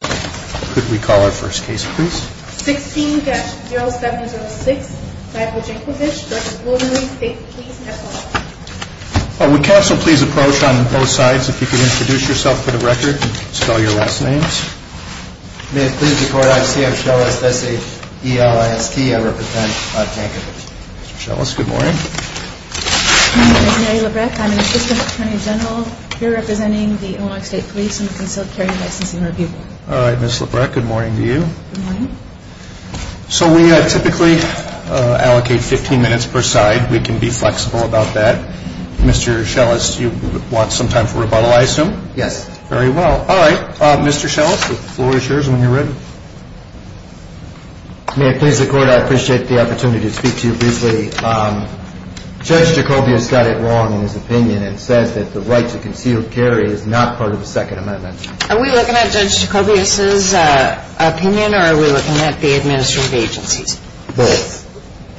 16-0706 Michael Jankovich v. Illinois State Police, F.L.I.S.T. May it please the Court, I'm C.F. Schellis, S.A.E.L.I.S.T. I represent Jankovich. Mr. Schellis, good morning. My name is Mary Labreck. I'm an assistant attorney general here representing the Illinois State Police in the concealed carry and licensing review board. All right, Ms. Labreck, good morning to you. Good morning. So we typically allocate 15 minutes per side. We can be flexible about that. Mr. Schellis, you want some time for rebuttal, I assume? Yes. Very well. All right, Mr. Schellis, the floor is yours when you're ready. May it please the Court, I appreciate the opportunity to speak to you briefly. Judge Jacobius got it wrong in his opinion and says that the right to concealed carry is not part of the Second Amendment. Are we looking at Judge Jacobius's opinion or are we looking at the administrative agency's? Both.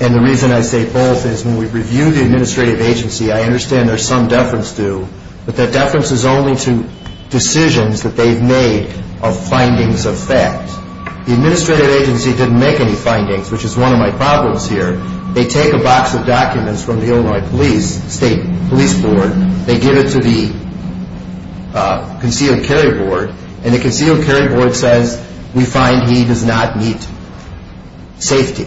And the reason I say both is when we review the administrative agency, I understand there's some deference due, but that deference is only to decisions that they've made of findings of fact. The administrative agency didn't make any findings, which is one of my problems here. They take a box of documents from the Illinois State Police Board, they give it to the concealed carry board, and the concealed carry board says, we find he does not meet safety.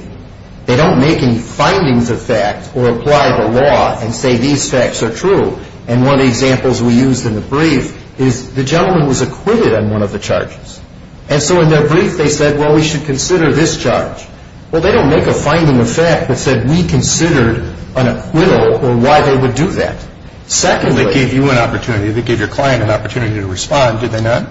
They don't make any findings of fact or apply the law and say these facts are true. And one of the examples we used in the brief is the gentleman was acquitted on one of the charges. And so in their brief they said, well, we should consider this charge. Well, they don't make a finding of fact that said we considered an acquittal or why they would do that. Secondly. They gave you an opportunity, they gave your client an opportunity to respond, did they not?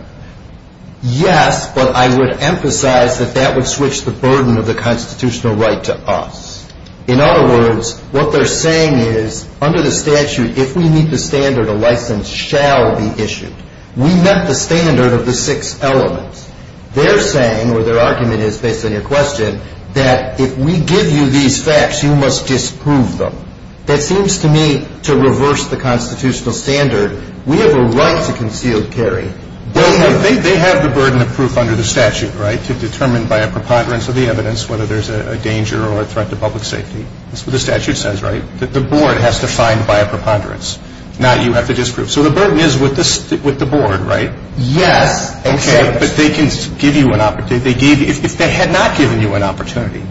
Yes, but I would emphasize that that would switch the burden of the constitutional right to us. In other words, what they're saying is under the statute, if we meet the standard, a license shall be issued. We met the standard of the six elements. They're saying, or their argument is based on your question, that if we give you these facts, you must disprove them. That seems to me to reverse the constitutional standard. We have a right to concealed carry. They have the burden of proof under the statute, right, to determine by a preponderance of the evidence whether there's a danger or a threat to public safety. That's what the statute says, right, that the board has to find by a preponderance, not you have to disprove. So the burden is with the board, right? Yes. Okay. But they can give you an opportunity. If they had not given you an opportunity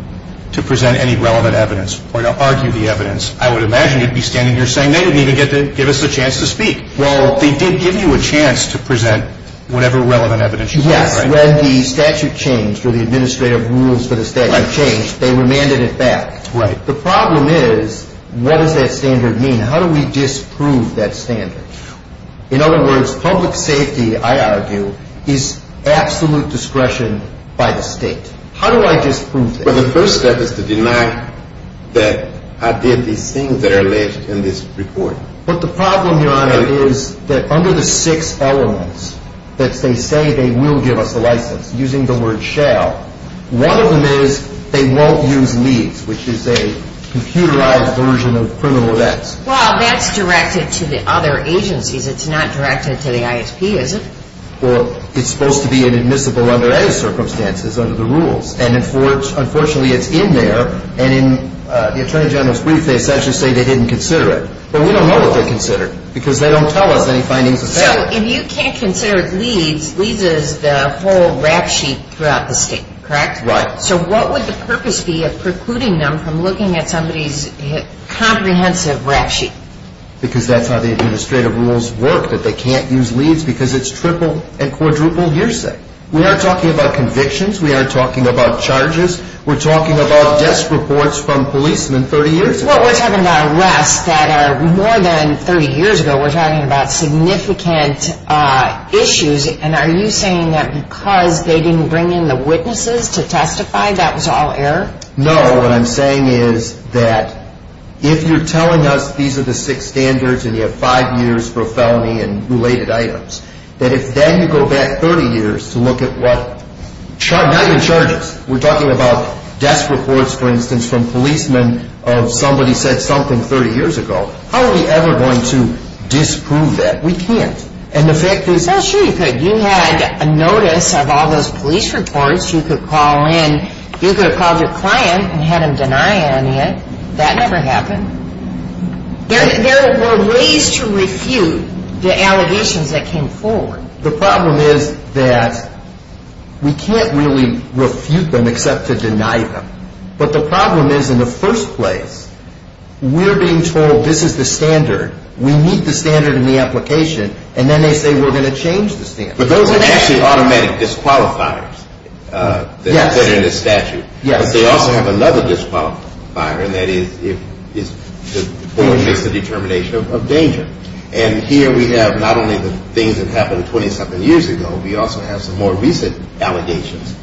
to present any relevant evidence or to argue the evidence, I would imagine you'd be standing here saying they didn't even get to give us a chance to speak. Well, they did give you a chance to present whatever relevant evidence you had, right? When the statute changed or the administrative rules for the statute changed, they remanded it back. Right. The problem is what does that standard mean? How do we disprove that standard? In other words, public safety, I argue, is absolute discretion by the state. How do I disprove that? Well, the first step is to deny that I did these things that are alleged in this report. But the problem, Your Honor, is that under the six elements that they say they will give us a license, using the word shall, one of them is they won't use leads, which is a computerized version of criminal events. Well, that's directed to the other agencies. It's not directed to the ISP, is it? Well, it's supposed to be inadmissible under any circumstances, under the rules. And, unfortunately, it's in there. And in the Attorney General's brief, they essentially say they didn't consider it. But we don't know what they considered because they don't tell us any findings of that. So if you can't consider leads, leads is the whole rap sheet throughout the state, correct? Right. So what would the purpose be of precluding them from looking at somebody's comprehensive rap sheet? Because that's how the administrative rules work, that they can't use leads because it's triple and quadruple hearsay. We aren't talking about convictions. We aren't talking about charges. We're talking about desk reports from policemen 30 years ago. Well, we're talking about arrests that are more than 30 years ago. We're talking about significant issues. And are you saying that because they didn't bring in the witnesses to testify, that was all error? No. What I'm saying is that if you're telling us these are the six standards and you have five years for a felony and related items, that if then you go back 30 years to look at what, not even charges, we're talking about desk reports, for instance, from policemen of somebody said something 30 years ago. How are we ever going to disprove that? We can't. And the fact is... Well, sure you could. You had a notice of all those police reports. You could have called your client and had him deny any of it. That never happened. There were ways to refute the allegations that came forward. The problem is that we can't really refute them except to deny them. But the problem is, in the first place, we're being told this is the standard. We meet the standard in the application, and then they say we're going to change the standard. But those are actually automatic disqualifiers that are in the statute. Yes. But they also have another disqualifier, and that is if the court makes the determination of danger. And here we have not only the things that happened 20-something years ago. We also have some more recent allegations.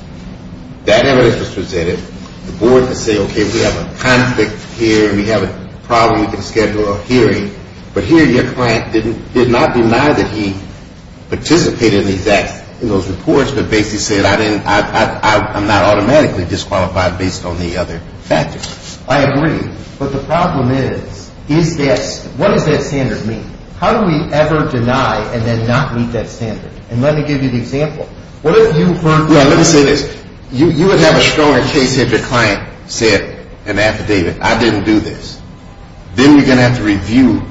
That evidence was presented. The board could say, okay, we have a conflict here. We have a problem. We can schedule a hearing. But here your client did not deny that he participated in those reports, but basically said I'm not automatically disqualified based on the other factors. I agree. But the problem is, what does that standard mean? How do we ever deny and then not meet that standard? And let me give you an example. Let me say this. You would have a stronger case if your client said in the affidavit, I didn't do this. Then you're going to have to review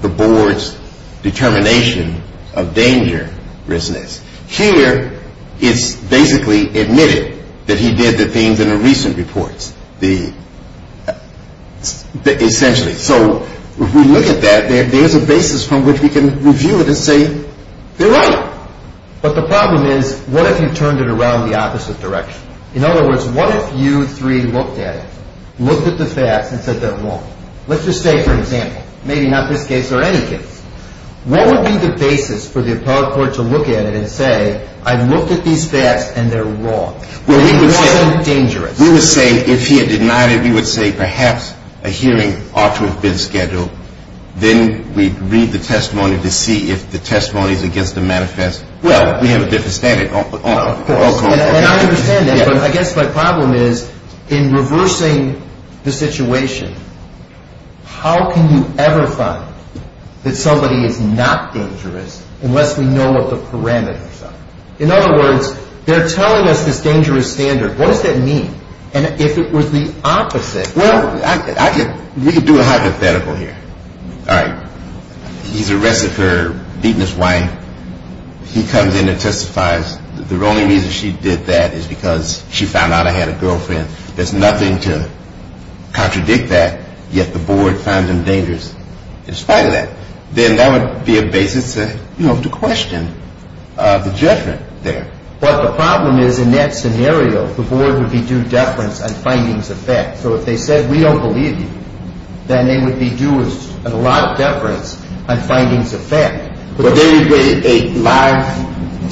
the board's determination of dangerousness. Here it's basically admitted that he did the things in the recent reports. Essentially. So if we look at that, there's a basis from which we can review it and say they're right. But the problem is, what if you turned it around the opposite direction? In other words, what if you three looked at it, looked at the facts, and said they're wrong? Let's just say, for example, maybe not this case or any case, what would be the basis for the appellate court to look at it and say, I looked at these facts and they're wrong, and it wasn't dangerous? We would say if he had denied it, we would say perhaps a hearing ought to have been scheduled. Then we'd read the testimony to see if the testimony is against the manifest. Well, we have a different standard. And I understand that, but I guess my problem is, in reversing the situation, how can you ever find that somebody is not dangerous unless we know what the parameters are? In other words, they're telling us this dangerous standard. What does that mean? And if it was the opposite? Well, we could do a hypothetical here. All right, he's arrested for beating his wife. He comes in and testifies. The only reason she did that is because she found out I had a girlfriend. There's nothing to contradict that. Yet the board finds him dangerous in spite of that. Then that would be a basis to question the judgment there. But the problem is, in that scenario, the board would be due deference on findings of fact. So if they said we don't believe you, then they would be due a lot of deference on findings of fact. But then you'd get a live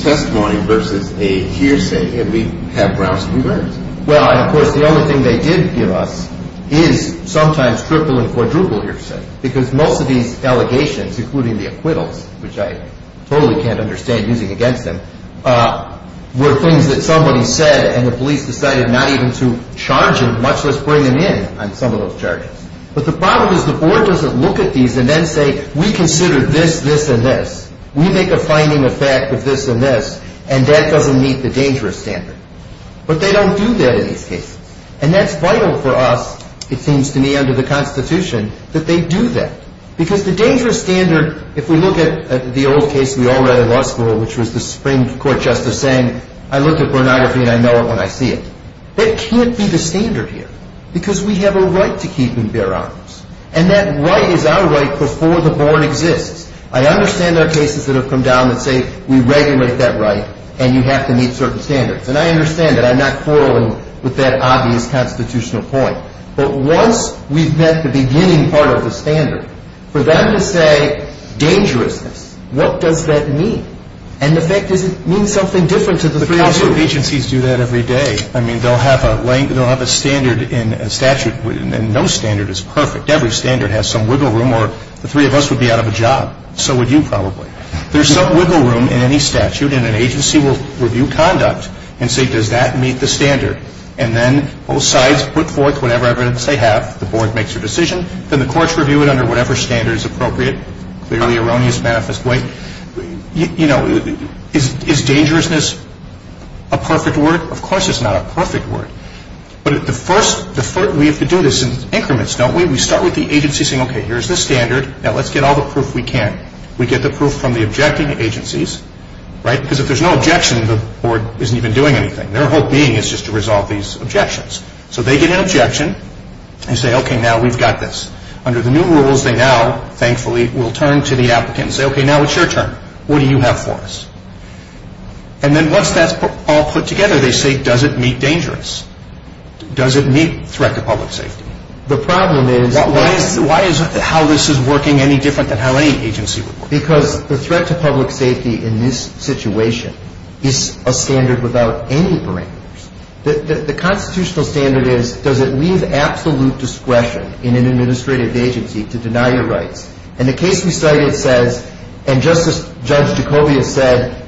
testimony versus a hearsay, and we'd have grounds for reverence. Well, of course, the only thing they did give us is sometimes triple and quadruple hearsay because most of these allegations, including the acquittals, which I totally can't understand using against him, were things that somebody said and the police decided not even to charge him, much less bring him in on some of those charges. But the problem is the board doesn't look at these and then say, we consider this, this, and this. We make a finding of fact of this and this, and that doesn't meet the dangerous standard. But they don't do that in these cases. And that's vital for us, it seems to me, under the Constitution, that they do that. Because the dangerous standard, if we look at the old case we all read in law school, which was the Supreme Court justice saying I look at pornography and I know it when I see it, that can't be the standard here because we have a right to keep and bear arms. And that right is our right before the board exists. I understand there are cases that have come down that say we regulate that right and you have to meet certain standards. And I understand that. I'm not quarreling with that obvious constitutional point. But once we've met the beginning part of the standard, for them to say dangerousness, what does that mean? And the fact is it means something different to the three of you. The council of agencies do that every day. I mean, they'll have a standard in statute, and no standard is perfect. Every standard has some wiggle room or the three of us would be out of a job. So would you probably. There's some wiggle room in any statute and an agency will review conduct and say, does that meet the standard? And then both sides put forth whatever evidence they have. The board makes their decision. Then the courts review it under whatever standard is appropriate. Clearly erroneous manifest way. You know, is dangerousness a perfect word? Of course it's not a perfect word. But the first, we have to do this in increments, don't we? We start with the agency saying, okay, here's the standard. Now let's get all the proof we can. We get the proof from the objecting agencies, right, because if there's no objection, the board isn't even doing anything. Their whole being is just to resolve these objections. So they get an objection and say, okay, now we've got this. Under the new rules, they now, thankfully, will turn to the applicant and say, okay, now it's your turn. What do you have for us? And then once that's all put together, they say, does it meet dangerous? Does it meet threat to public safety? The problem is. Why is how this is working any different than how any agency would work? Because the threat to public safety in this situation is a standard without any parameters. The constitutional standard is, does it leave absolute discretion in an administrative agency to deny your rights? And the case we cited says, and Judge Jacobia said,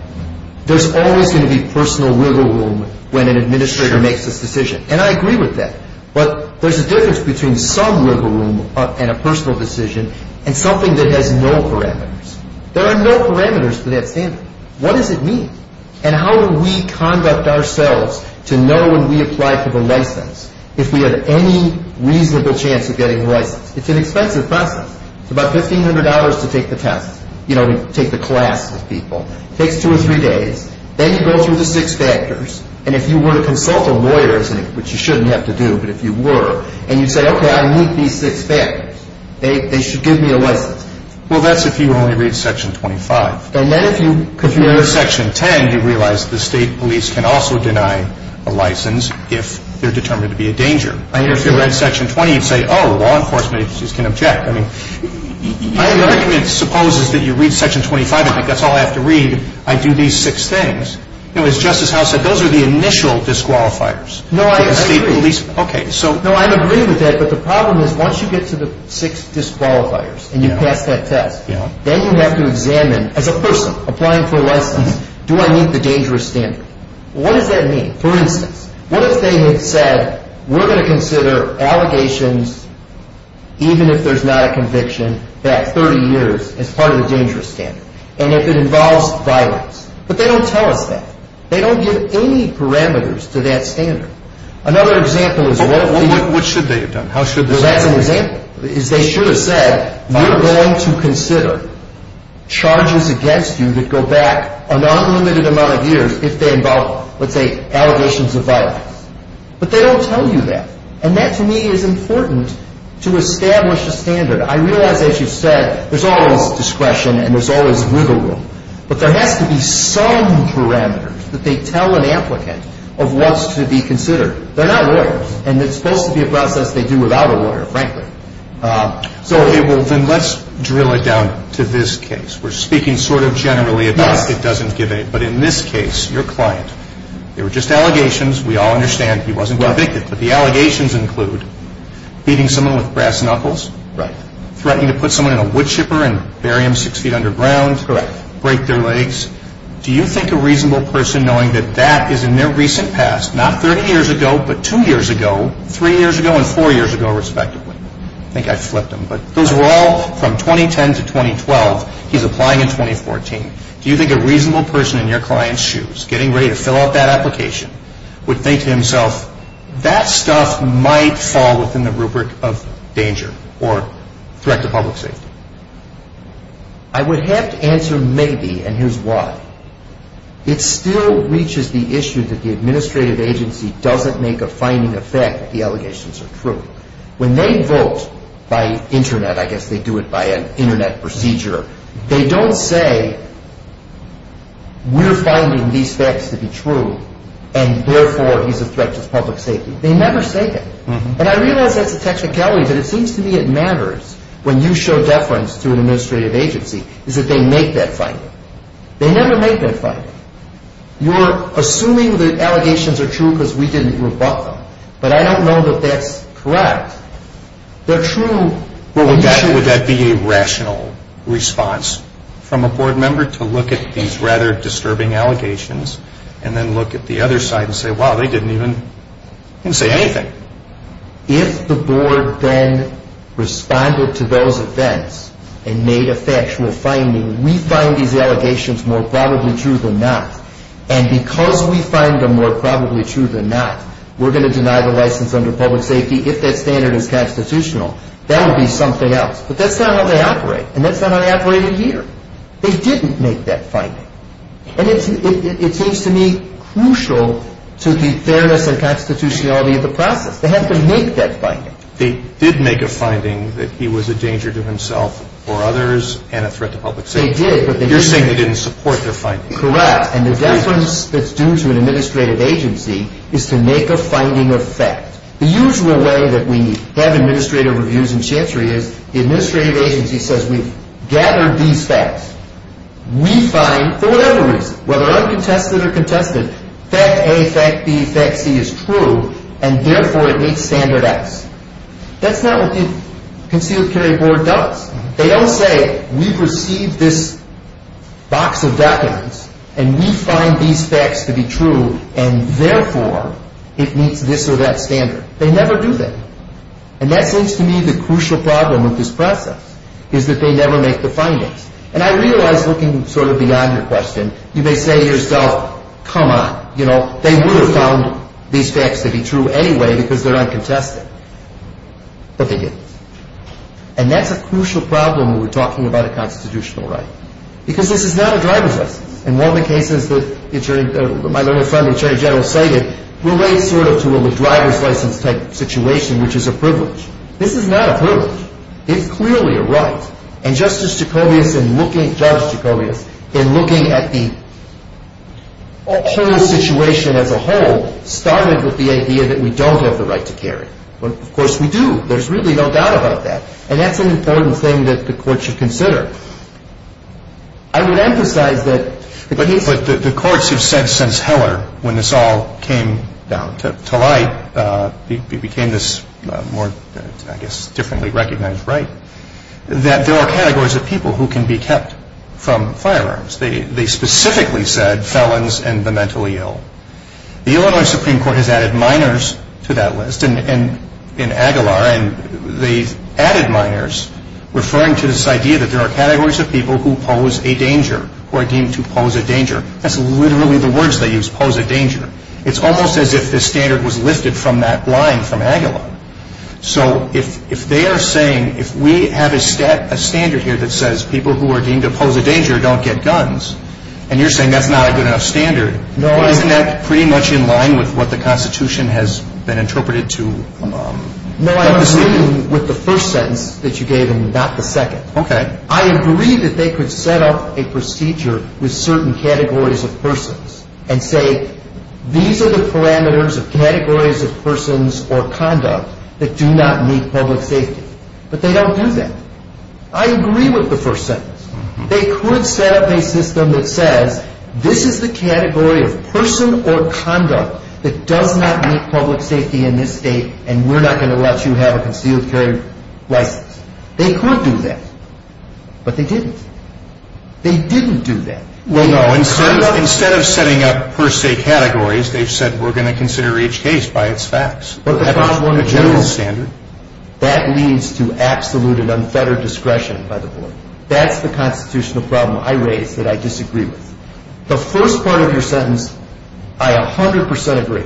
there's always going to be personal wiggle room when an administrator makes this decision. And I agree with that. But there's a difference between some wiggle room and a personal decision and something that has no parameters. There are no parameters for that standard. What does it mean? And how do we conduct ourselves to know when we apply for the license, if we have any reasonable chance of getting the license? It's an expensive process. It's about $1,500 to take the test. You know, we take the class with people. It takes two or three days. Then you go through the six factors. And if you were to consult a lawyer, which you shouldn't have to do, but if you were, and you say, okay, I meet these six factors. They should give me a license. Well, that's if you only read Section 25. And then if you read Section 10, you realize the state police can also deny a license if they're determined to be a danger. I mean, if you read Section 20, you'd say, oh, law enforcement agencies can object. I mean, my argument supposes that you read Section 25. I think that's all I have to read. I do these six things. You know, as Justice Howe said, those are the initial disqualifiers. No, I agree. Okay, so. No, I agree with that. But the problem is once you get to the six disqualifiers and you pass that test, then you have to examine as a person applying for a license, do I meet the dangerous standard? What does that mean? For instance, what if they had said we're going to consider allegations even if there's not a conviction that 30 years is part of the dangerous standard and if it involves violence? But they don't tell us that. They don't give any parameters to that standard. Another example is. What should they have done? That's an example. They should have said we're going to consider charges against you that go back an unlimited amount of years if they involve, let's say, allegations of violence. But they don't tell you that. And that, to me, is important to establish a standard. I realize, as you said, there's always discretion and there's always wiggle room. But there has to be some parameters that they tell an applicant of what's to be considered. They're not lawyers. And it's supposed to be a process they do without a lawyer, frankly. Okay. Well, then let's drill it down to this case. We're speaking sort of generally about it doesn't give a. But in this case, your client, there were just allegations. We all understand he wasn't convicted. But the allegations include beating someone with brass knuckles. Right. Threatening to put someone in a wood chipper and bury him six feet underground. Correct. Break their legs. Do you think a reasonable person, knowing that that is in their recent past, not 30 years ago but two years ago, three years ago and four years ago, respectively. I think I flipped them. But those were all from 2010 to 2012. He's applying in 2014. Do you think a reasonable person in your client's shoes, getting ready to fill out that application, would think to himself, that stuff might fall within the rubric of danger or threat to public safety? I would have to answer maybe, and here's why. It still reaches the issue that the administrative agency doesn't make a finding of fact that the allegations are true. When they vote by Internet, I guess they do it by an Internet procedure, they don't say, we're finding these facts to be true, and therefore he's a threat to public safety. They never say that. And I realize that's a technicality, but it seems to me it matters. When you show deference to an administrative agency, is that they make that finding. They never make that finding. You're assuming that allegations are true because we didn't rebut them. But I don't know that that's correct. Would that be a rational response from a board member to look at these rather disturbing allegations and then look at the other side and say, wow, they didn't even say anything. If the board then responded to those events and made a factual finding, we find these allegations more probably true than not. And because we find them more probably true than not, we're going to deny the license under public safety if that standard is constitutional. That would be something else. But that's not how they operate, and that's not how they operated here. They didn't make that finding. And it seems to me crucial to the fairness and constitutionality of the process. They have to make that finding. They did make a finding that he was a danger to himself or others and a threat to public safety. They did, but they didn't. You're saying they didn't support their finding. Correct. And the deference that's due to an administrative agency is to make a finding of fact. The usual way that we have administrative reviews in chancery is the administrative agency says, we've gathered these facts. We find, for whatever reason, whether uncontested or contested, fact A, fact B, fact C is true, and therefore it meets standard X. That's not what the concealed carry board does. They don't say, we've received this box of documents, and we find these facts to be true, and therefore it meets this or that standard. They never do that. And that seems to me the crucial problem with this process is that they never make the findings. And I realize, looking sort of beyond your question, you may say to yourself, come on, you know, they would have found these facts to be true anyway because they're uncontested. But they didn't. And that's a crucial problem when we're talking about a constitutional right. Because this is not a driver's license. And one of the cases that my little friend, the Attorney General, cited relates sort of to a driver's license type situation, which is a privilege. This is not a privilege. It's clearly a right. And Justice Jacobius in looking at the whole situation as a whole started with the idea that we don't have the right to carry. Of course we do. There's really no doubt about that. And that's an important thing that the court should consider. I would emphasize that the courts have said since Heller when this all came down to light, it became this more, I guess, differently recognized right, that there are categories of people who can be kept from firearms. They specifically said felons and the mentally ill. The Illinois Supreme Court has added minors to that list in Aguilar. And they've added minors referring to this idea that there are categories of people who pose a danger, who are deemed to pose a danger. That's literally the words they use, pose a danger. It's almost as if this standard was lifted from that line from Aguilar. So if they are saying, if we have a standard here that says people who are deemed to pose a danger don't get guns, and you're saying that's not a good enough standard, isn't that pretty much in line with what the Constitution has been interpreted to? No, I agree with the first sentence that you gave and not the second. Okay. I agree that they could set up a procedure with certain categories of persons and say, these are the parameters of categories of persons or conduct that do not meet public safety. But they don't do that. I agree with the first sentence. They could set up a system that says this is the category of person or conduct that does not meet public safety in this state, and we're not going to let you have a concealed carry license. They could do that. But they didn't. They didn't do that. Well, no. Instead of setting up per se categories, they've said we're going to consider each case by its facts. But the problem in general, that leads to absolute and unfettered discretion by the board. That's the constitutional problem I raise that I disagree with. The first part of your sentence, I 100% agree.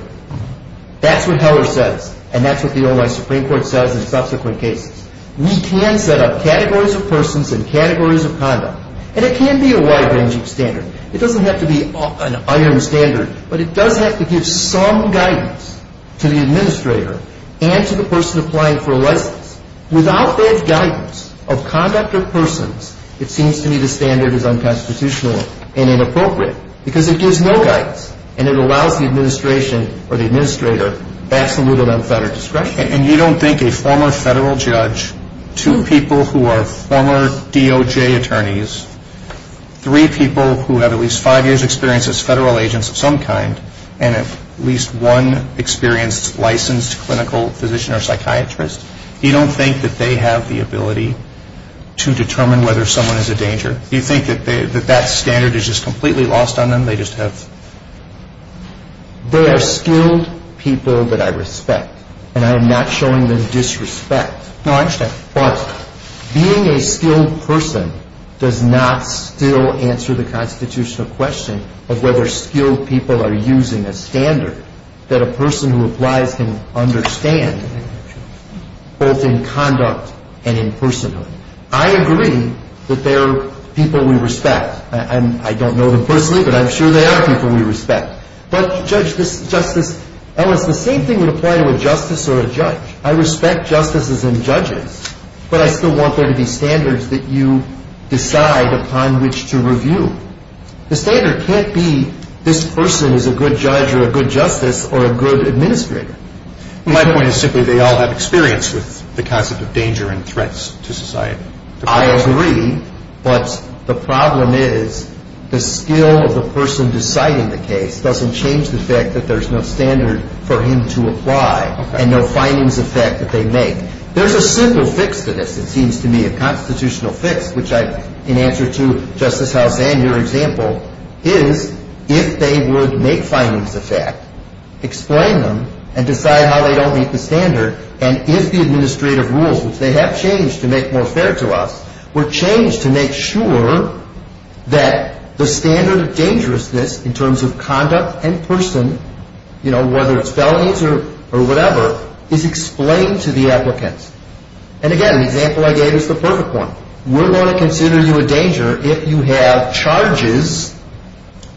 That's what Heller says, and that's what the Ohio Supreme Court says in subsequent cases. We can set up categories of persons and categories of conduct, and it can be a wide-ranging standard. It doesn't have to be an iron standard, but it does have to give some guidance to the administrator and to the person applying for a license. Without that guidance of conduct of persons, it seems to me the standard is unconstitutional and inappropriate because it gives no guidance, and it allows the administration or the administrator absolute and unfettered discretion. And you don't think a former federal judge, two people who are former DOJ attorneys, three people who have at least five years' experience as federal agents of some kind, and at least one experienced licensed clinical physician or psychiatrist, you don't think that they have the ability to determine whether someone is a danger? Do you think that that standard is just completely lost on them? They just have... They are skilled people that I respect, and I am not showing them disrespect. No, I understand. But being a skilled person does not still answer the constitutional question of whether skilled people are using a standard that a person who applies can understand, both in conduct and in personhood. I agree that there are people we respect. I don't know them personally, but I'm sure there are people we respect. But, Judge, Justice Ellis, the same thing would apply to a justice or a judge. I respect justices and judges, but I still want there to be standards that you decide upon which to review. The standard can't be this person is a good judge or a good justice or a good administrator. My point is simply they all have experience with the concept of danger and threats to society. I agree, but the problem is the skill of the person deciding the case doesn't change the fact that there's no standard for him to apply and no findings of fact that they make. There's a simple fix to this, it seems to me, a constitutional fix, which in answer to Justice House Ann, your example, is if they would make findings of fact, explain them, and decide how they don't meet the standard, and if the administrative rules, which they have changed to make more fair to us, were changed to make sure that the standard of dangerousness in terms of conduct and person, whether it's felonies or whatever, is explained to the applicants. And again, the example I gave is the perfect one. We're going to consider you a danger if you have charges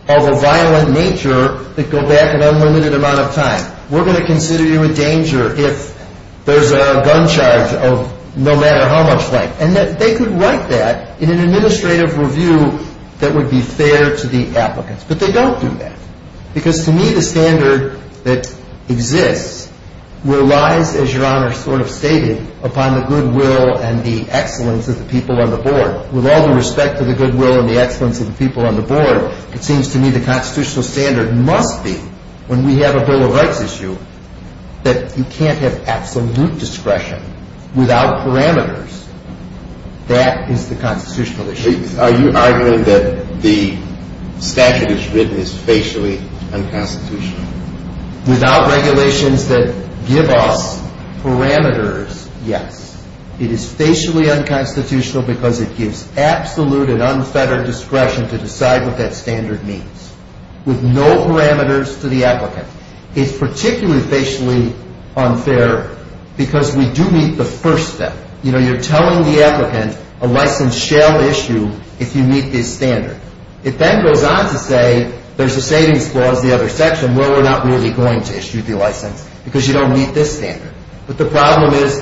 of a violent nature that go back an unlimited amount of time. We're going to consider you a danger if there's a gun charge of no matter how much length. And that they could write that in an administrative review that would be fair to the applicants. But they don't do that, because to me the standard that exists relies, as your Honor sort of stated, upon the goodwill and the excellence of the people on the board. With all the respect to the goodwill and the excellence of the people on the board, it seems to me the constitutional standard must be, when we have a Bill of Rights issue, that you can't have absolute discretion without parameters. That is the constitutional issue. Are you arguing that the statute that's written is facially unconstitutional? Without regulations that give us parameters, yes. It is facially unconstitutional because it gives absolute and unfettered discretion to decide what that standard means. With no parameters to the applicant. It's particularly facially unfair because we do meet the first step. You know, you're telling the applicant a license shall issue if you meet this standard. It then goes on to say there's a savings clause in the other section where we're not really going to issue the license because you don't meet this standard. But the problem is,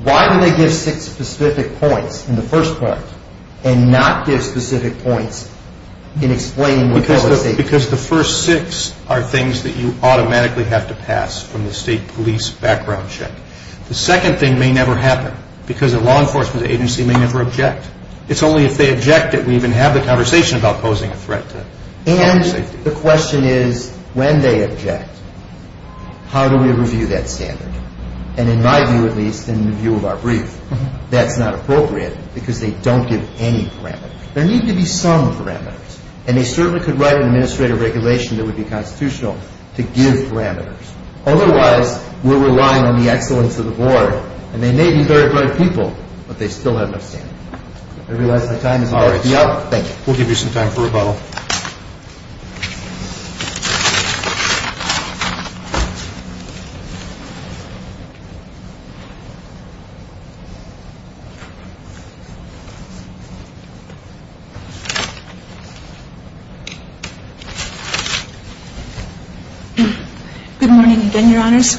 why do they give six specific points in the first part and not give specific points in explaining the policy? Because the first six are things that you automatically have to pass from the state police background check. The second thing may never happen because the law enforcement agency may never object. It's only if they object that we even have the conversation about posing a threat to safety. And the question is, when they object, how do we review that standard? And in my view at least, in the view of our brief, that's not appropriate because they don't give any parameters. There need to be some parameters. And they certainly could write an administrative regulation that would be constitutional to give parameters. Otherwise, we're relying on the excellence of the board and they may be very bright people, but they still have no standard. I realize my time is running out. Thank you. We'll give you some time for rebuttal. Good morning again, Your Honors.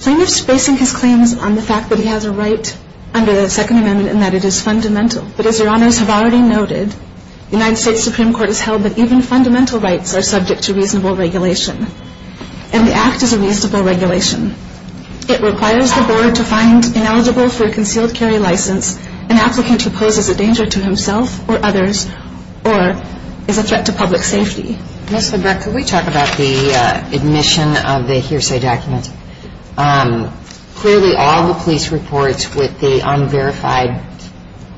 Plaintiff's basing his claims on the fact that he has a right under the Second Amendment and that it is fundamental. But as Your Honors have already noted, the United States Supreme Court has held that even fundamental rights are subject to reasonable regulation. And the Act is a reasonable regulation. It requires the board to find ineligible for a concealed carry license an applicant who poses a threat to safety. And that applicant is either a threat to himself or others or is a threat to public safety. Ms. LeBrecht, can we talk about the admission of the hearsay document? Clearly all the police reports with the unverified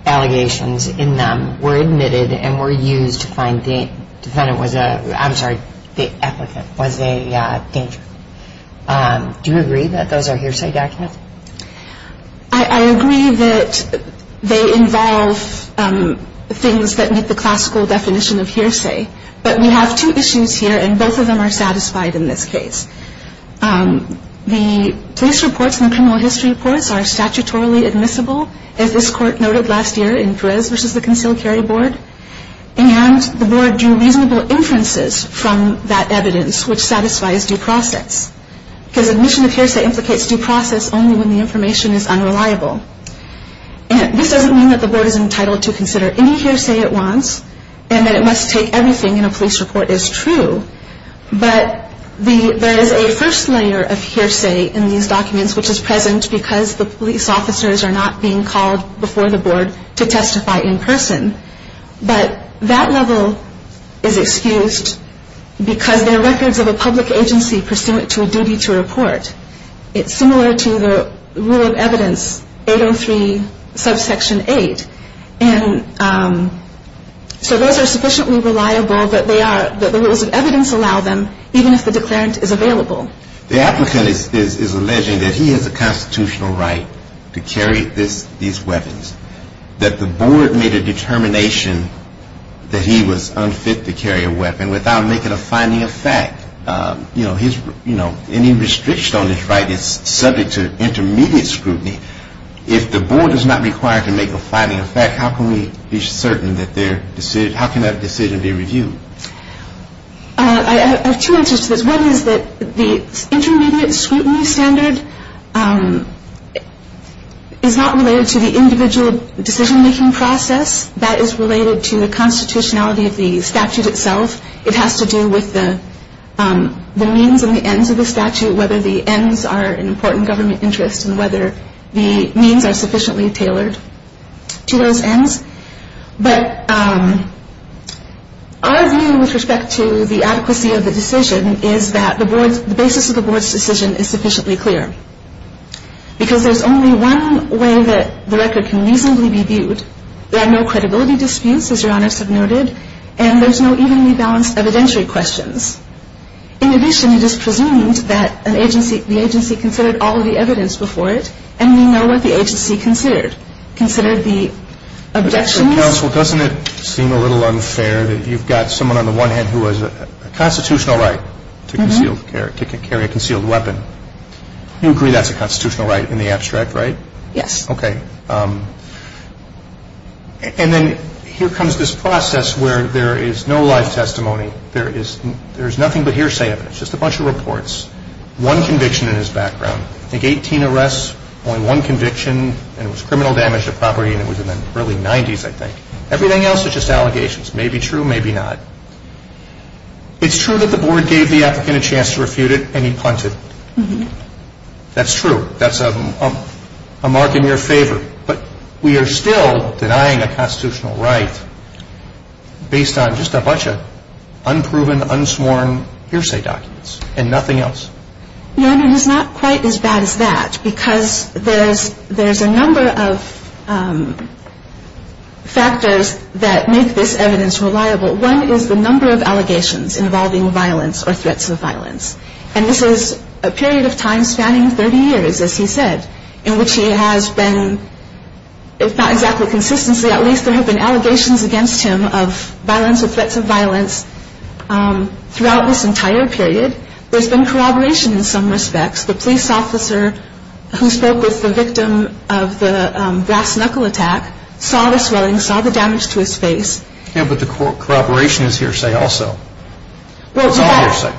allegations in them were admitted and were used to find the applicant was a danger. Do you agree that those are hearsay documents? I agree that they involve things that meet the classical definition of hearsay. But we have two issues here, and both of them are satisfied in this case. The police reports and the criminal history reports are statutorily admissible, as this court noted last year in Perez v. the Concealed Carry Board. And the board drew reasonable inferences from that evidence, which satisfies due process. Because admission of hearsay implicates due process only when the information is unreliable. This doesn't mean that the board is entitled to consider any hearsay it wants and that it must take everything in a police report as true. But there is a first layer of hearsay in these documents, which is present because the police officers are not being called before the board to testify in person. But that level is excused because they're records of a public agency pursuant to a duty to report. It's similar to the rule of evidence 803 subsection 8. And so those are sufficiently reliable that the rules of evidence allow them, even if the declarant is available. The applicant is alleging that he has a constitutional right to carry these weapons, that the board made a determination that he was unfit to carry a weapon without making a finding of fact. You know, any restriction on his right is subject to intermediate scrutiny. If the board is not required to make a finding of fact, how can we be certain that their decision, how can that decision be reviewed? I have two answers to this. One is that the intermediate scrutiny standard is not related to the individual decision-making process. That is related to the constitutionality of the statute itself. It has to do with the means and the ends of the statute, whether the ends are an important government interest and whether the means are sufficiently tailored to those ends. But our view with respect to the adequacy of the decision is that the basis of the board's decision is sufficiently clear, because there's only one way that the record can reasonably be viewed. There are no credibility disputes, as Your Honors have noted, and there's no evenly balanced evidentiary questions. In addition, it is presumed that the agency considered all of the evidence before it and we know what the agency considered. Considered the objections. Counsel, doesn't it seem a little unfair that you've got someone on the one hand who has a constitutional right to carry a concealed weapon? You agree that's a constitutional right in the abstract, right? Yes. Okay. And then here comes this process where there is no live testimony. There is nothing but hearsay evidence, just a bunch of reports. One conviction in his background. I think 18 arrests, only one conviction, and it was criminal damage to property and it was in the early 90s, I think. Everything else is just allegations. Maybe true, maybe not. It's true that the board gave the applicant a chance to refute it and he punted. That's true. That's a mark in your favor. But we are still denying a constitutional right based on just a bunch of unproven, unsworn hearsay documents and nothing else. Your Honor, it is not quite as bad as that because there's a number of factors that make this evidence reliable. One is the number of allegations involving violence or threats of violence. And this is a period of time spanning 30 years, as he said, in which he has been, if not exactly consistently, at least there have been allegations against him of violence or threats of violence throughout this entire period. There's been corroboration in some respects. The police officer who spoke with the victim of the brass knuckle attack saw the swelling, saw the damage to his face. Yeah, but the corroboration is hearsay also. Well,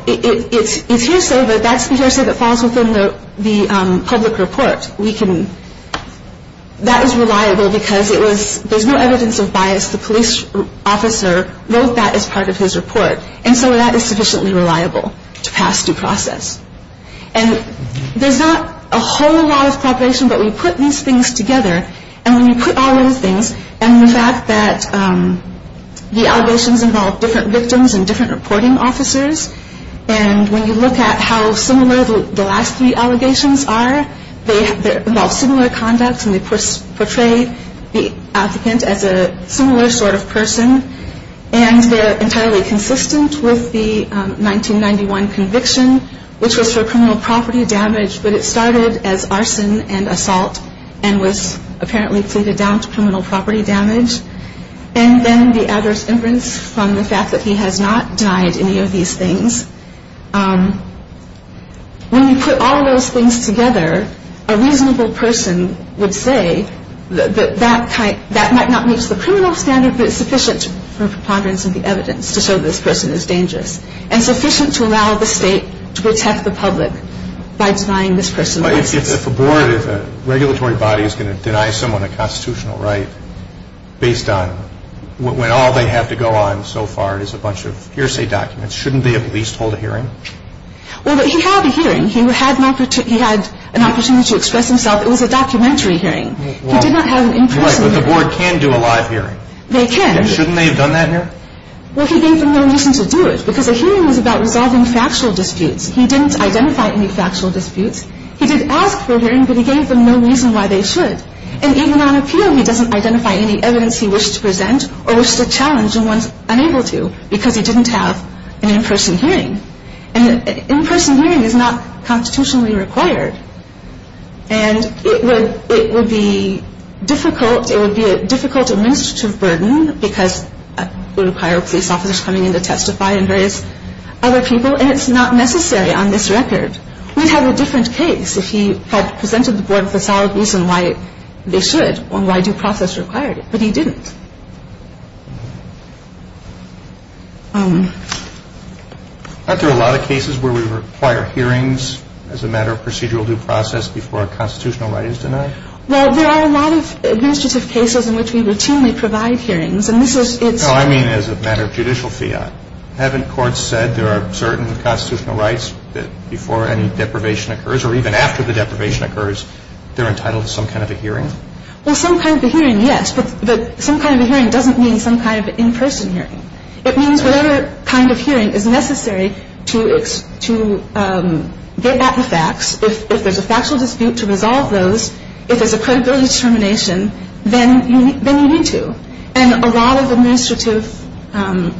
it's hearsay, but that's hearsay that falls within the public report. That is reliable because there's no evidence of bias. The police officer wrote that as part of his report. And so that is sufficiently reliable. To pass due process. And there's not a whole lot of corroboration, but we put these things together. And when you put all those things, and the fact that the allegations involve different victims and different reporting officers, and when you look at how similar the last three allegations are, they involve similar conduct and they portray the applicant as a similar sort of person, and they're entirely consistent with the 1991 conviction, which was for criminal property damage, but it started as arson and assault and was apparently pleaded down to criminal property damage. And then the adverse imprints from the fact that he has not denied any of these things. When you put all of those things together, a reasonable person would say that that might not meet the criminal standard, but it's sufficient for preponderance of the evidence to show this person is dangerous. And sufficient to allow the state to protect the public by denying this person license. If a board, if a regulatory body is going to deny someone a constitutional right based on when all they have to go on so far is a bunch of hearsay documents, shouldn't they at least hold a hearing? Well, he had a hearing. He had an opportunity to express himself. It was a documentary hearing. He did not have an in-person hearing. Right, but the board can do a live hearing. They can. And shouldn't they have done that hearing? Well, he gave them no reason to do it because a hearing was about resolving factual disputes. He didn't identify any factual disputes. He did ask for a hearing, but he gave them no reason why they should. And even on appeal, he doesn't identify any evidence he wished to present or wished to challenge the ones unable to because he didn't have an in-person hearing. And an in-person hearing is not constitutionally required. And it would be difficult, it would be a difficult administrative burden because it would require police officers coming in to testify and various other people, and it's not necessary on this record. We'd have a different case if he had presented the board with a solid reason why they should or why due process required it. But he didn't. Aren't there a lot of cases where we require hearings as a matter of procedural due process before a constitutional right is denied? Well, there are a lot of administrative cases in which we routinely provide hearings, and this is its – No, I mean as a matter of judicial fiat. Haven't courts said there are certain constitutional rights that before any deprivation occurs or even after the deprivation occurs, they're entitled to some kind of a hearing? Well, some kind of a hearing, yes, but some kind of a hearing doesn't mean some kind of an in-person hearing. It means whatever kind of hearing is necessary to get back the facts. If there's a factual dispute to resolve those, if there's a credibility determination, then you need to. And a lot of administrative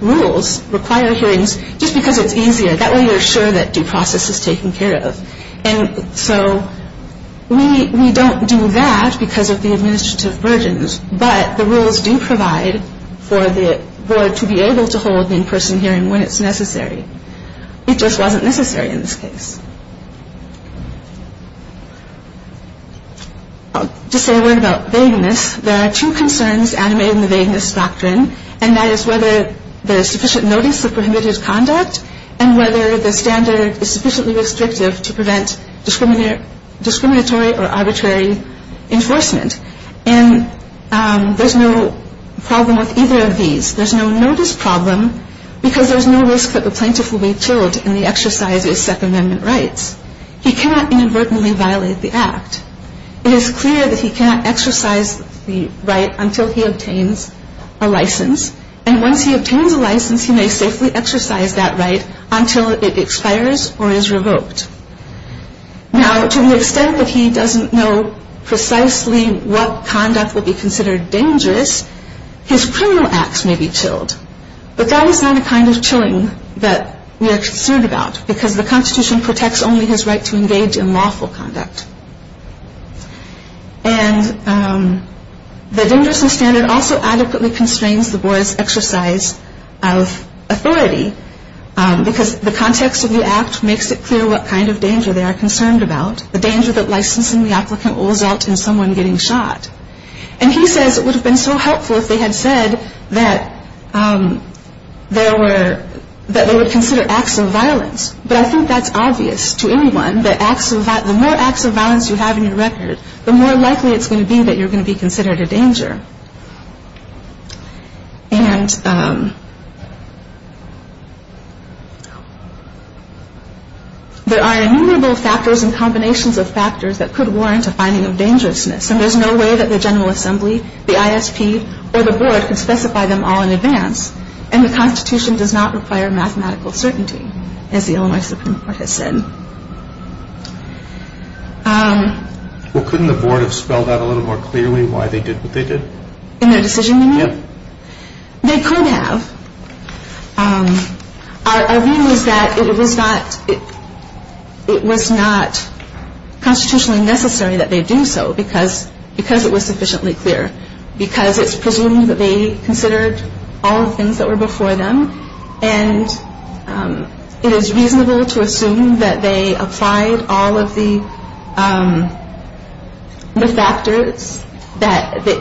rules require hearings just because it's easier. That way you're sure that due process is taken care of. And so we don't do that because of the administrative burdens, but the rules do provide for the board to be able to hold an in-person hearing when it's necessary. It just wasn't necessary in this case. To say a word about vagueness, there are two concerns animated in the vagueness doctrine, and that is whether there is sufficient notice of prohibited conduct and whether the standard is sufficiently restrictive to prevent discriminatory or arbitrary enforcement. And there's no problem with either of these. There's no notice problem because there's no risk that the plaintiff will be killed in the exercise of his Second Amendment rights. He cannot inadvertently violate the act. It is clear that he cannot exercise the right until he obtains a license. And once he obtains a license, he may safely exercise that right until it expires or is revoked. Now, to the extent that he doesn't know precisely what conduct will be considered dangerous, his criminal acts may be chilled. But that is not a kind of chilling that we are concerned about because the Constitution protects only his right to engage in lawful conduct. And the dangerousness standard also adequately constrains the board's exercise of authority because the context of the act makes it clear what kind of danger they are concerned about, the danger that licensing the applicant will result in someone getting shot. And he says it would have been so helpful if they had said that they would consider acts of violence. But I think that's obvious to anyone that the more acts of violence you have in your record, the more likely it's going to be that you're going to be considered a danger. And there are innumerable factors and combinations of factors that could warrant a finding of dangerousness. And there's no way that the General Assembly, the ISP, or the board can specify them all in advance. And the Constitution does not require mathematical certainty, as the Illinois Supreme Court has said. Well, couldn't the board have spelled out a little more clearly why they did what they did? In their decision review? They could have. Our view is that it was not constitutionally necessary that they do so because it was sufficiently clear, because it's presumed that they considered all the things that were before them. And it is reasonable to assume that they applied all of the factors that they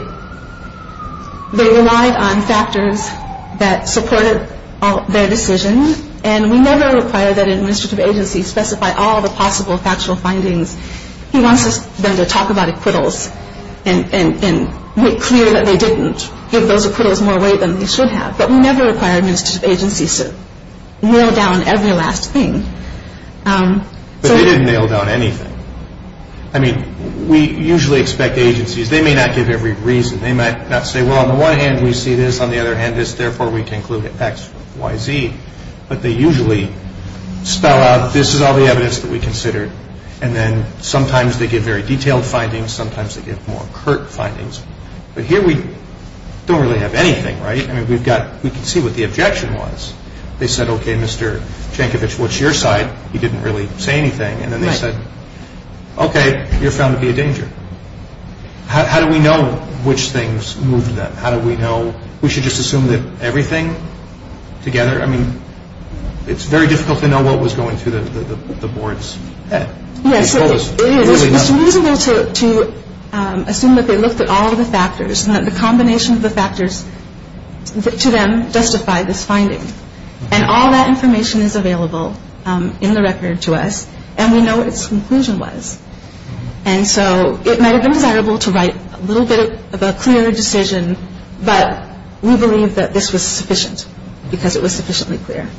relied on factors that supported their decision. And we never require that an administrative agency specify all the possible factual findings. He wants them to talk about acquittals and make clear that they didn't give those acquittals more weight than they should have. But we never require an administrative agency to nail down every last thing. But they didn't nail down anything. I mean, we usually expect agencies, they may not give every reason. They might not say, well, on the one hand, we see this. On the other hand, therefore, we conclude it X, Y, Z. But they usually spell out, this is all the evidence that we considered. And then sometimes they give very detailed findings. Sometimes they give more curt findings. But here we don't really have anything, right? I mean, we've got, we can see what the objection was. They said, okay, Mr. Jankovich, what's your side? He didn't really say anything. And then they said, okay, you're found to be a danger. How do we know which things moved them? How do we know, we should just assume that everything together? I mean, it's very difficult to know what was going through the board's head. Yes, it is. It's reasonable to assume that they looked at all of the factors and that the combination of the factors to them justified this finding. And all that information is available in the record to us. And we know what its conclusion was. And so it might have been desirable to write a little bit of a clearer decision. But we believe that this was sufficient because it was sufficiently clear.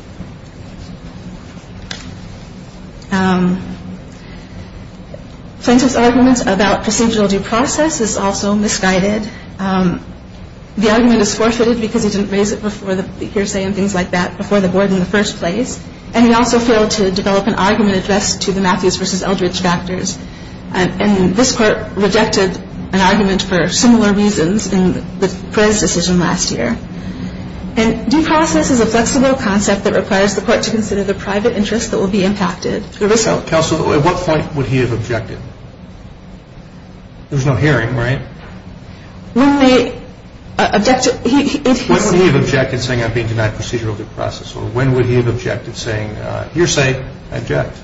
Plaintiff's argument about procedural due process is also misguided. The argument is forfeited because he didn't raise it before the hearsay and things like that before the board in the first place. And he also failed to develop an argument addressed to the Matthews v. Eldridge factors. And this court rejected an argument for similar reasons in the Prez decision last year. Due process is a flexible concept that requires the court to consider the private interest that will be impacted. Counsel, at what point would he have objected? There was no hearing, right? When they objected. When would he have objected saying, I'm being denied procedural due process? Or when would he have objected saying, hearsay, I object?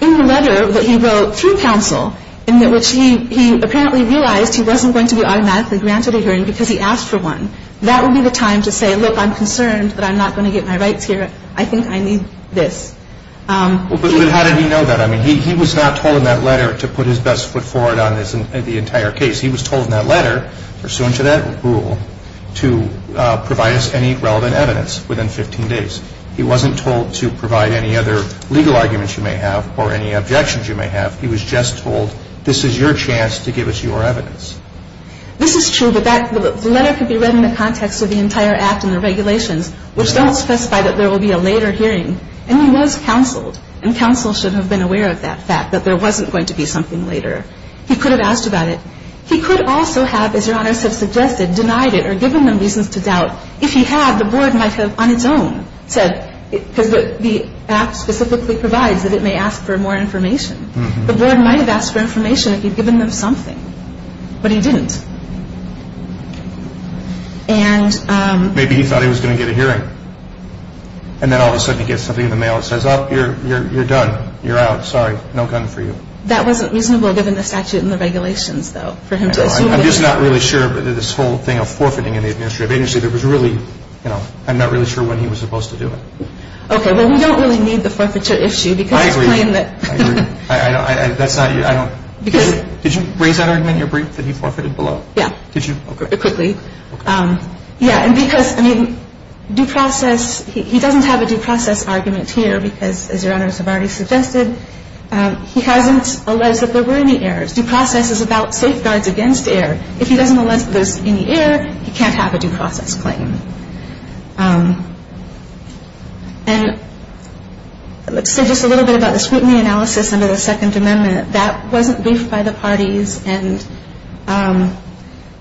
In the letter that he wrote through counsel in which he apparently realized he wasn't going to be automatically granted a hearing because he asked for one. That would be the time to say, look, I'm concerned that I'm not going to get my rights here. I think I need this. But how did he know that? I mean, he was not told in that letter to put his best foot forward on the entire case. He was told in that letter, pursuant to that rule, to provide us any relevant evidence within 15 days. He wasn't told to provide any other legal arguments you may have or any objections you may have. He was just told, this is your chance to give us your evidence. This is true, but that letter could be read in the context of the entire act and the regulations, which don't specify that there will be a later hearing. And he was counseled. And counsel should have been aware of that fact, that there wasn't going to be something later. He could have asked about it. He could also have, as Your Honors have suggested, denied it or given them reasons to doubt. If he had, the board might have on its own said, because the act specifically provides that it may ask for more information. The board might have asked for information if you'd given them something. But he didn't. And... Maybe he thought he was going to get a hearing. And then all of a sudden he gets something in the mail that says, oh, you're done. You're out. Sorry. No gun for you. That wasn't reasonable given the statute and the regulations, though, for him to assume. I'm just not really sure about this whole thing of forfeiting in the administrative agency. There was really, you know, I'm not really sure when he was supposed to do it. Okay. Well, we don't really need the forfeiture issue because his claim that... I agree. I agree. I don't, that's not, I don't... Because... Did you raise that argument in your brief that he forfeited below? Yeah. Did you? Quickly. Yeah. And because, I mean, due process, he doesn't have a due process argument here because, as Your Honors have already suggested, he hasn't alleged that there were any errors. Due process is about safeguards against error. If he doesn't allege that there's any error, he can't have a due process claim. And let's say just a little bit about the scrutiny analysis under the Second Amendment. That wasn't briefed by the parties. And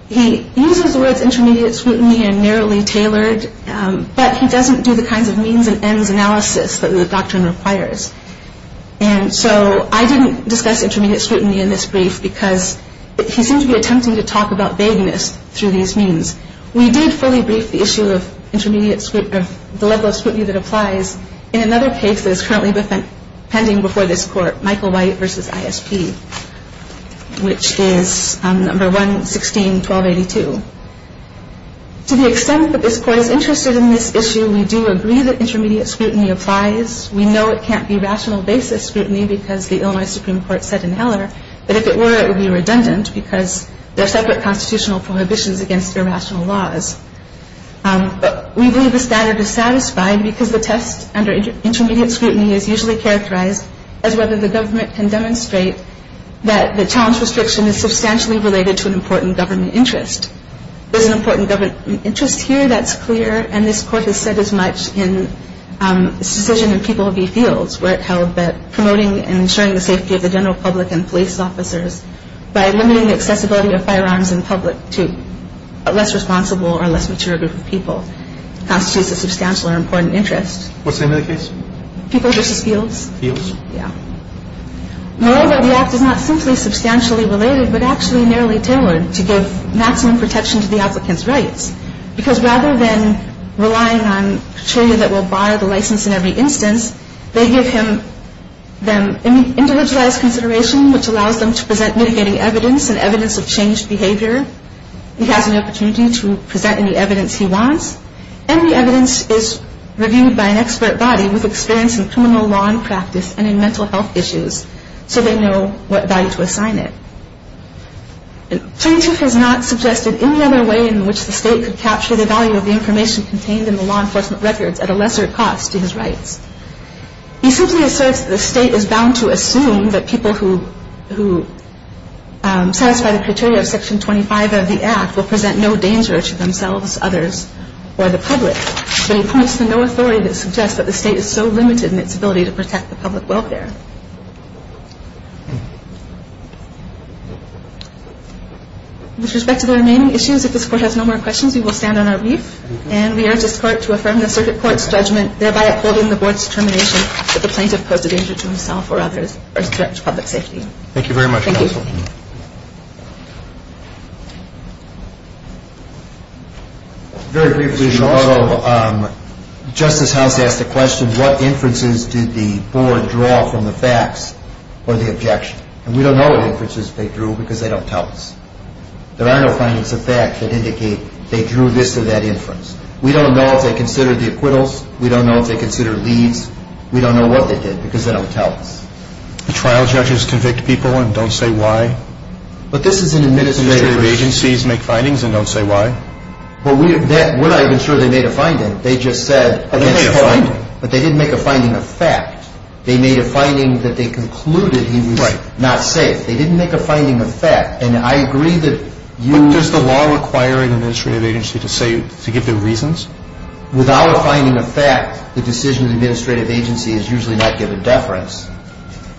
he uses the words intermediate scrutiny and narrowly tailored, but he doesn't do the kinds of means and ends analysis that the doctrine requires. And so I didn't discuss intermediate scrutiny in this brief because he seemed to be attempting to talk about vagueness through these means. We did fully brief the issue of the level of scrutiny that applies in another case that is currently pending before this Court, Michael White v. ISP, which is No. 116-1282. To the extent that this Court is interested in this issue, we do agree that intermediate scrutiny applies. We know it can't be rational basis scrutiny because the Illinois Supreme Court said in Heller that if it were, it would be redundant because there are separate constitutional prohibitions against irrational laws. But we believe the standard is satisfied because the test under intermediate scrutiny is usually characterized as whether the government can demonstrate that the challenge restriction is substantially related to an important government interest. There's an important government interest here that's clear, and this Court has said as much in its decision in People v. Fields where it held that promoting and ensuring the safety of the general public and police officers by limiting the accessibility of firearms in public to a less responsible or less mature group of people constitutes a substantial or important interest. What's the name of the case? People v. Fields. Fields? Yeah. Moreover, the act is not simply substantially related, but actually nearly tailored to give maximum protection to the applicant's rights because rather than relying on a trainer that will buy the license in every instance, they give them individualized consideration which allows them to present mitigating evidence and evidence of changed behavior. He has an opportunity to present any evidence he wants, and the evidence is reviewed by an expert body with experience in criminal law and practice and in mental health issues so they know what value to assign it. Plaintiff has not suggested any other way in which the state could capture the value of the information contained in the law enforcement records at a lesser cost to his rights. He simply asserts that the state is bound to assume that people who satisfy the criteria of Section 25 of the act will present no danger to themselves, others, or the public, but he points to no authority that suggests that the state is so limited in its ability to protect the public welfare. With respect to the remaining issues, if this Court has no more questions, we will stand on our leaf, and we urge this Court to affirm the Circuit Court's judgment, thereby upholding the Board's determination that the plaintiff posed a danger to himself or others or is a threat to public safety. Thank you very much, counsel. Thank you. Very briefly, although Justice House asked the question, what inferences did the Board draw from the facts or the objection? And we don't know what inferences they drew, because they don't tell us. There are no findings of fact that indicate they drew this or that inference. We don't know if they considered the acquittals. We don't know if they considered leads. We don't know what they did, because they don't tell us. The trial judges convict people and don't say why? But this is an administrative issue. Administrative agencies make findings and don't say why? Well, we're not even sure they made a finding. They just said, Oh, they made a finding. But they didn't make a finding of fact. They made a finding that they concluded he was not safe. Right. They didn't make a finding of fact. And I agree that you – But does the law require an administrative agency to give the reasons? Without a finding of fact, the decision of the administrative agency is usually not given deference.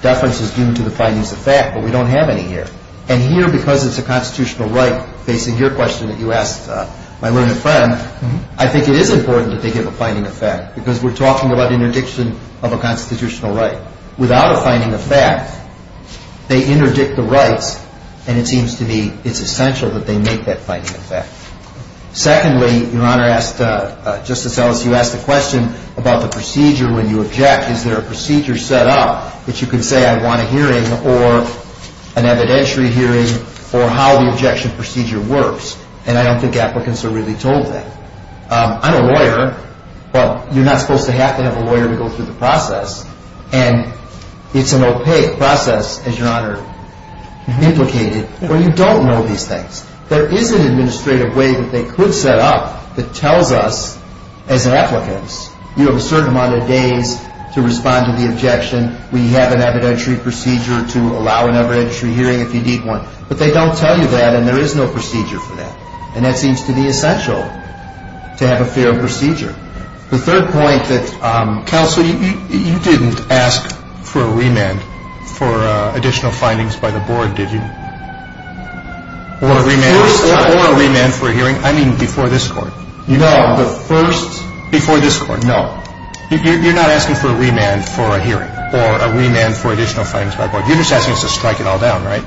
Deference is due to the findings of fact, but we don't have any here. And here, because it's a constitutional right, facing your question that you asked my roommate friend, I think it is important that they give a finding of fact, because we're talking about interdiction of a constitutional right. Without a finding of fact, they interdict the rights, and it seems to me it's essential that they make that finding of fact. Secondly, Your Honor asked – Justice Ellis, you asked a question about the procedure when you object. Is there a procedure set up that you can say I want a hearing or an evidentiary hearing or how the objection procedure works? And I don't think applicants are really told that. I'm a lawyer. Well, you're not supposed to have to have a lawyer to go through the process. And it's an opaque process, as Your Honor implicated, where you don't know these things. There is an administrative way that they could set up that tells us, as applicants, you have a certain amount of days to respond to the objection. We have an evidentiary procedure to allow an evidentiary hearing if you need one. But they don't tell you that, and there is no procedure for that. And that seems to be essential to have a fair procedure. The third point that – Counsel, you didn't ask for a remand for additional findings by the board, did you? Or a remand for a hearing. I mean before this Court. No. Before this Court. No. You're not asking for a remand for a hearing or a remand for additional findings by the board. You're just asking us to strike it all down, right?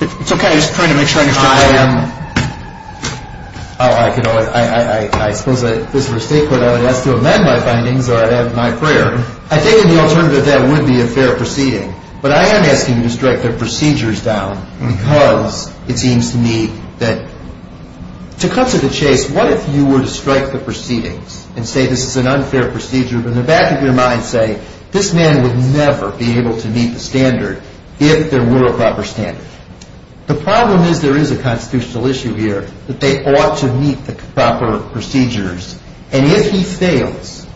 It's okay. I'm just trying to make sure I understand what you're saying. I suppose if this were a state court I would ask to amend my findings or I'd have my prayer. I think in the alternative that would be a fair proceeding. But I am asking you to strike the procedures down because it seems to me that – to cut to the chase, what if you were to strike the proceedings and say this is an unfair procedure, but in the back of your mind say, this man would never be able to meet the standard if there were a proper standard. The problem is there is a constitutional issue here that they ought to meet the proper procedures. And if he fails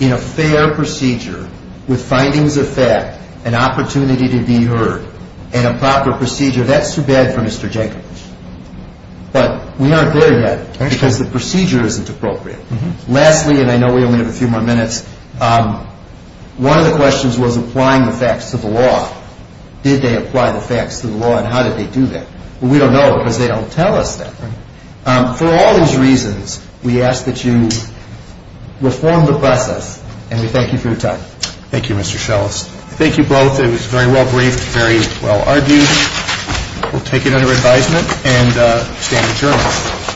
in a fair procedure with findings of fact, an opportunity to be heard, and a proper procedure, that's too bad for Mr. Jenkins. But we aren't there yet because the procedure isn't appropriate. Lastly, and I know we only have a few more minutes, one of the questions was applying the facts to the law. Did they apply the facts to the law and how did they do that? We don't know because they don't tell us that. For all these reasons, we ask that you reform the process and we thank you for your time. Thank you, Mr. Schelles. Thank you both. It was very well briefed, very well argued. We'll take it under advisement and stand adjourned.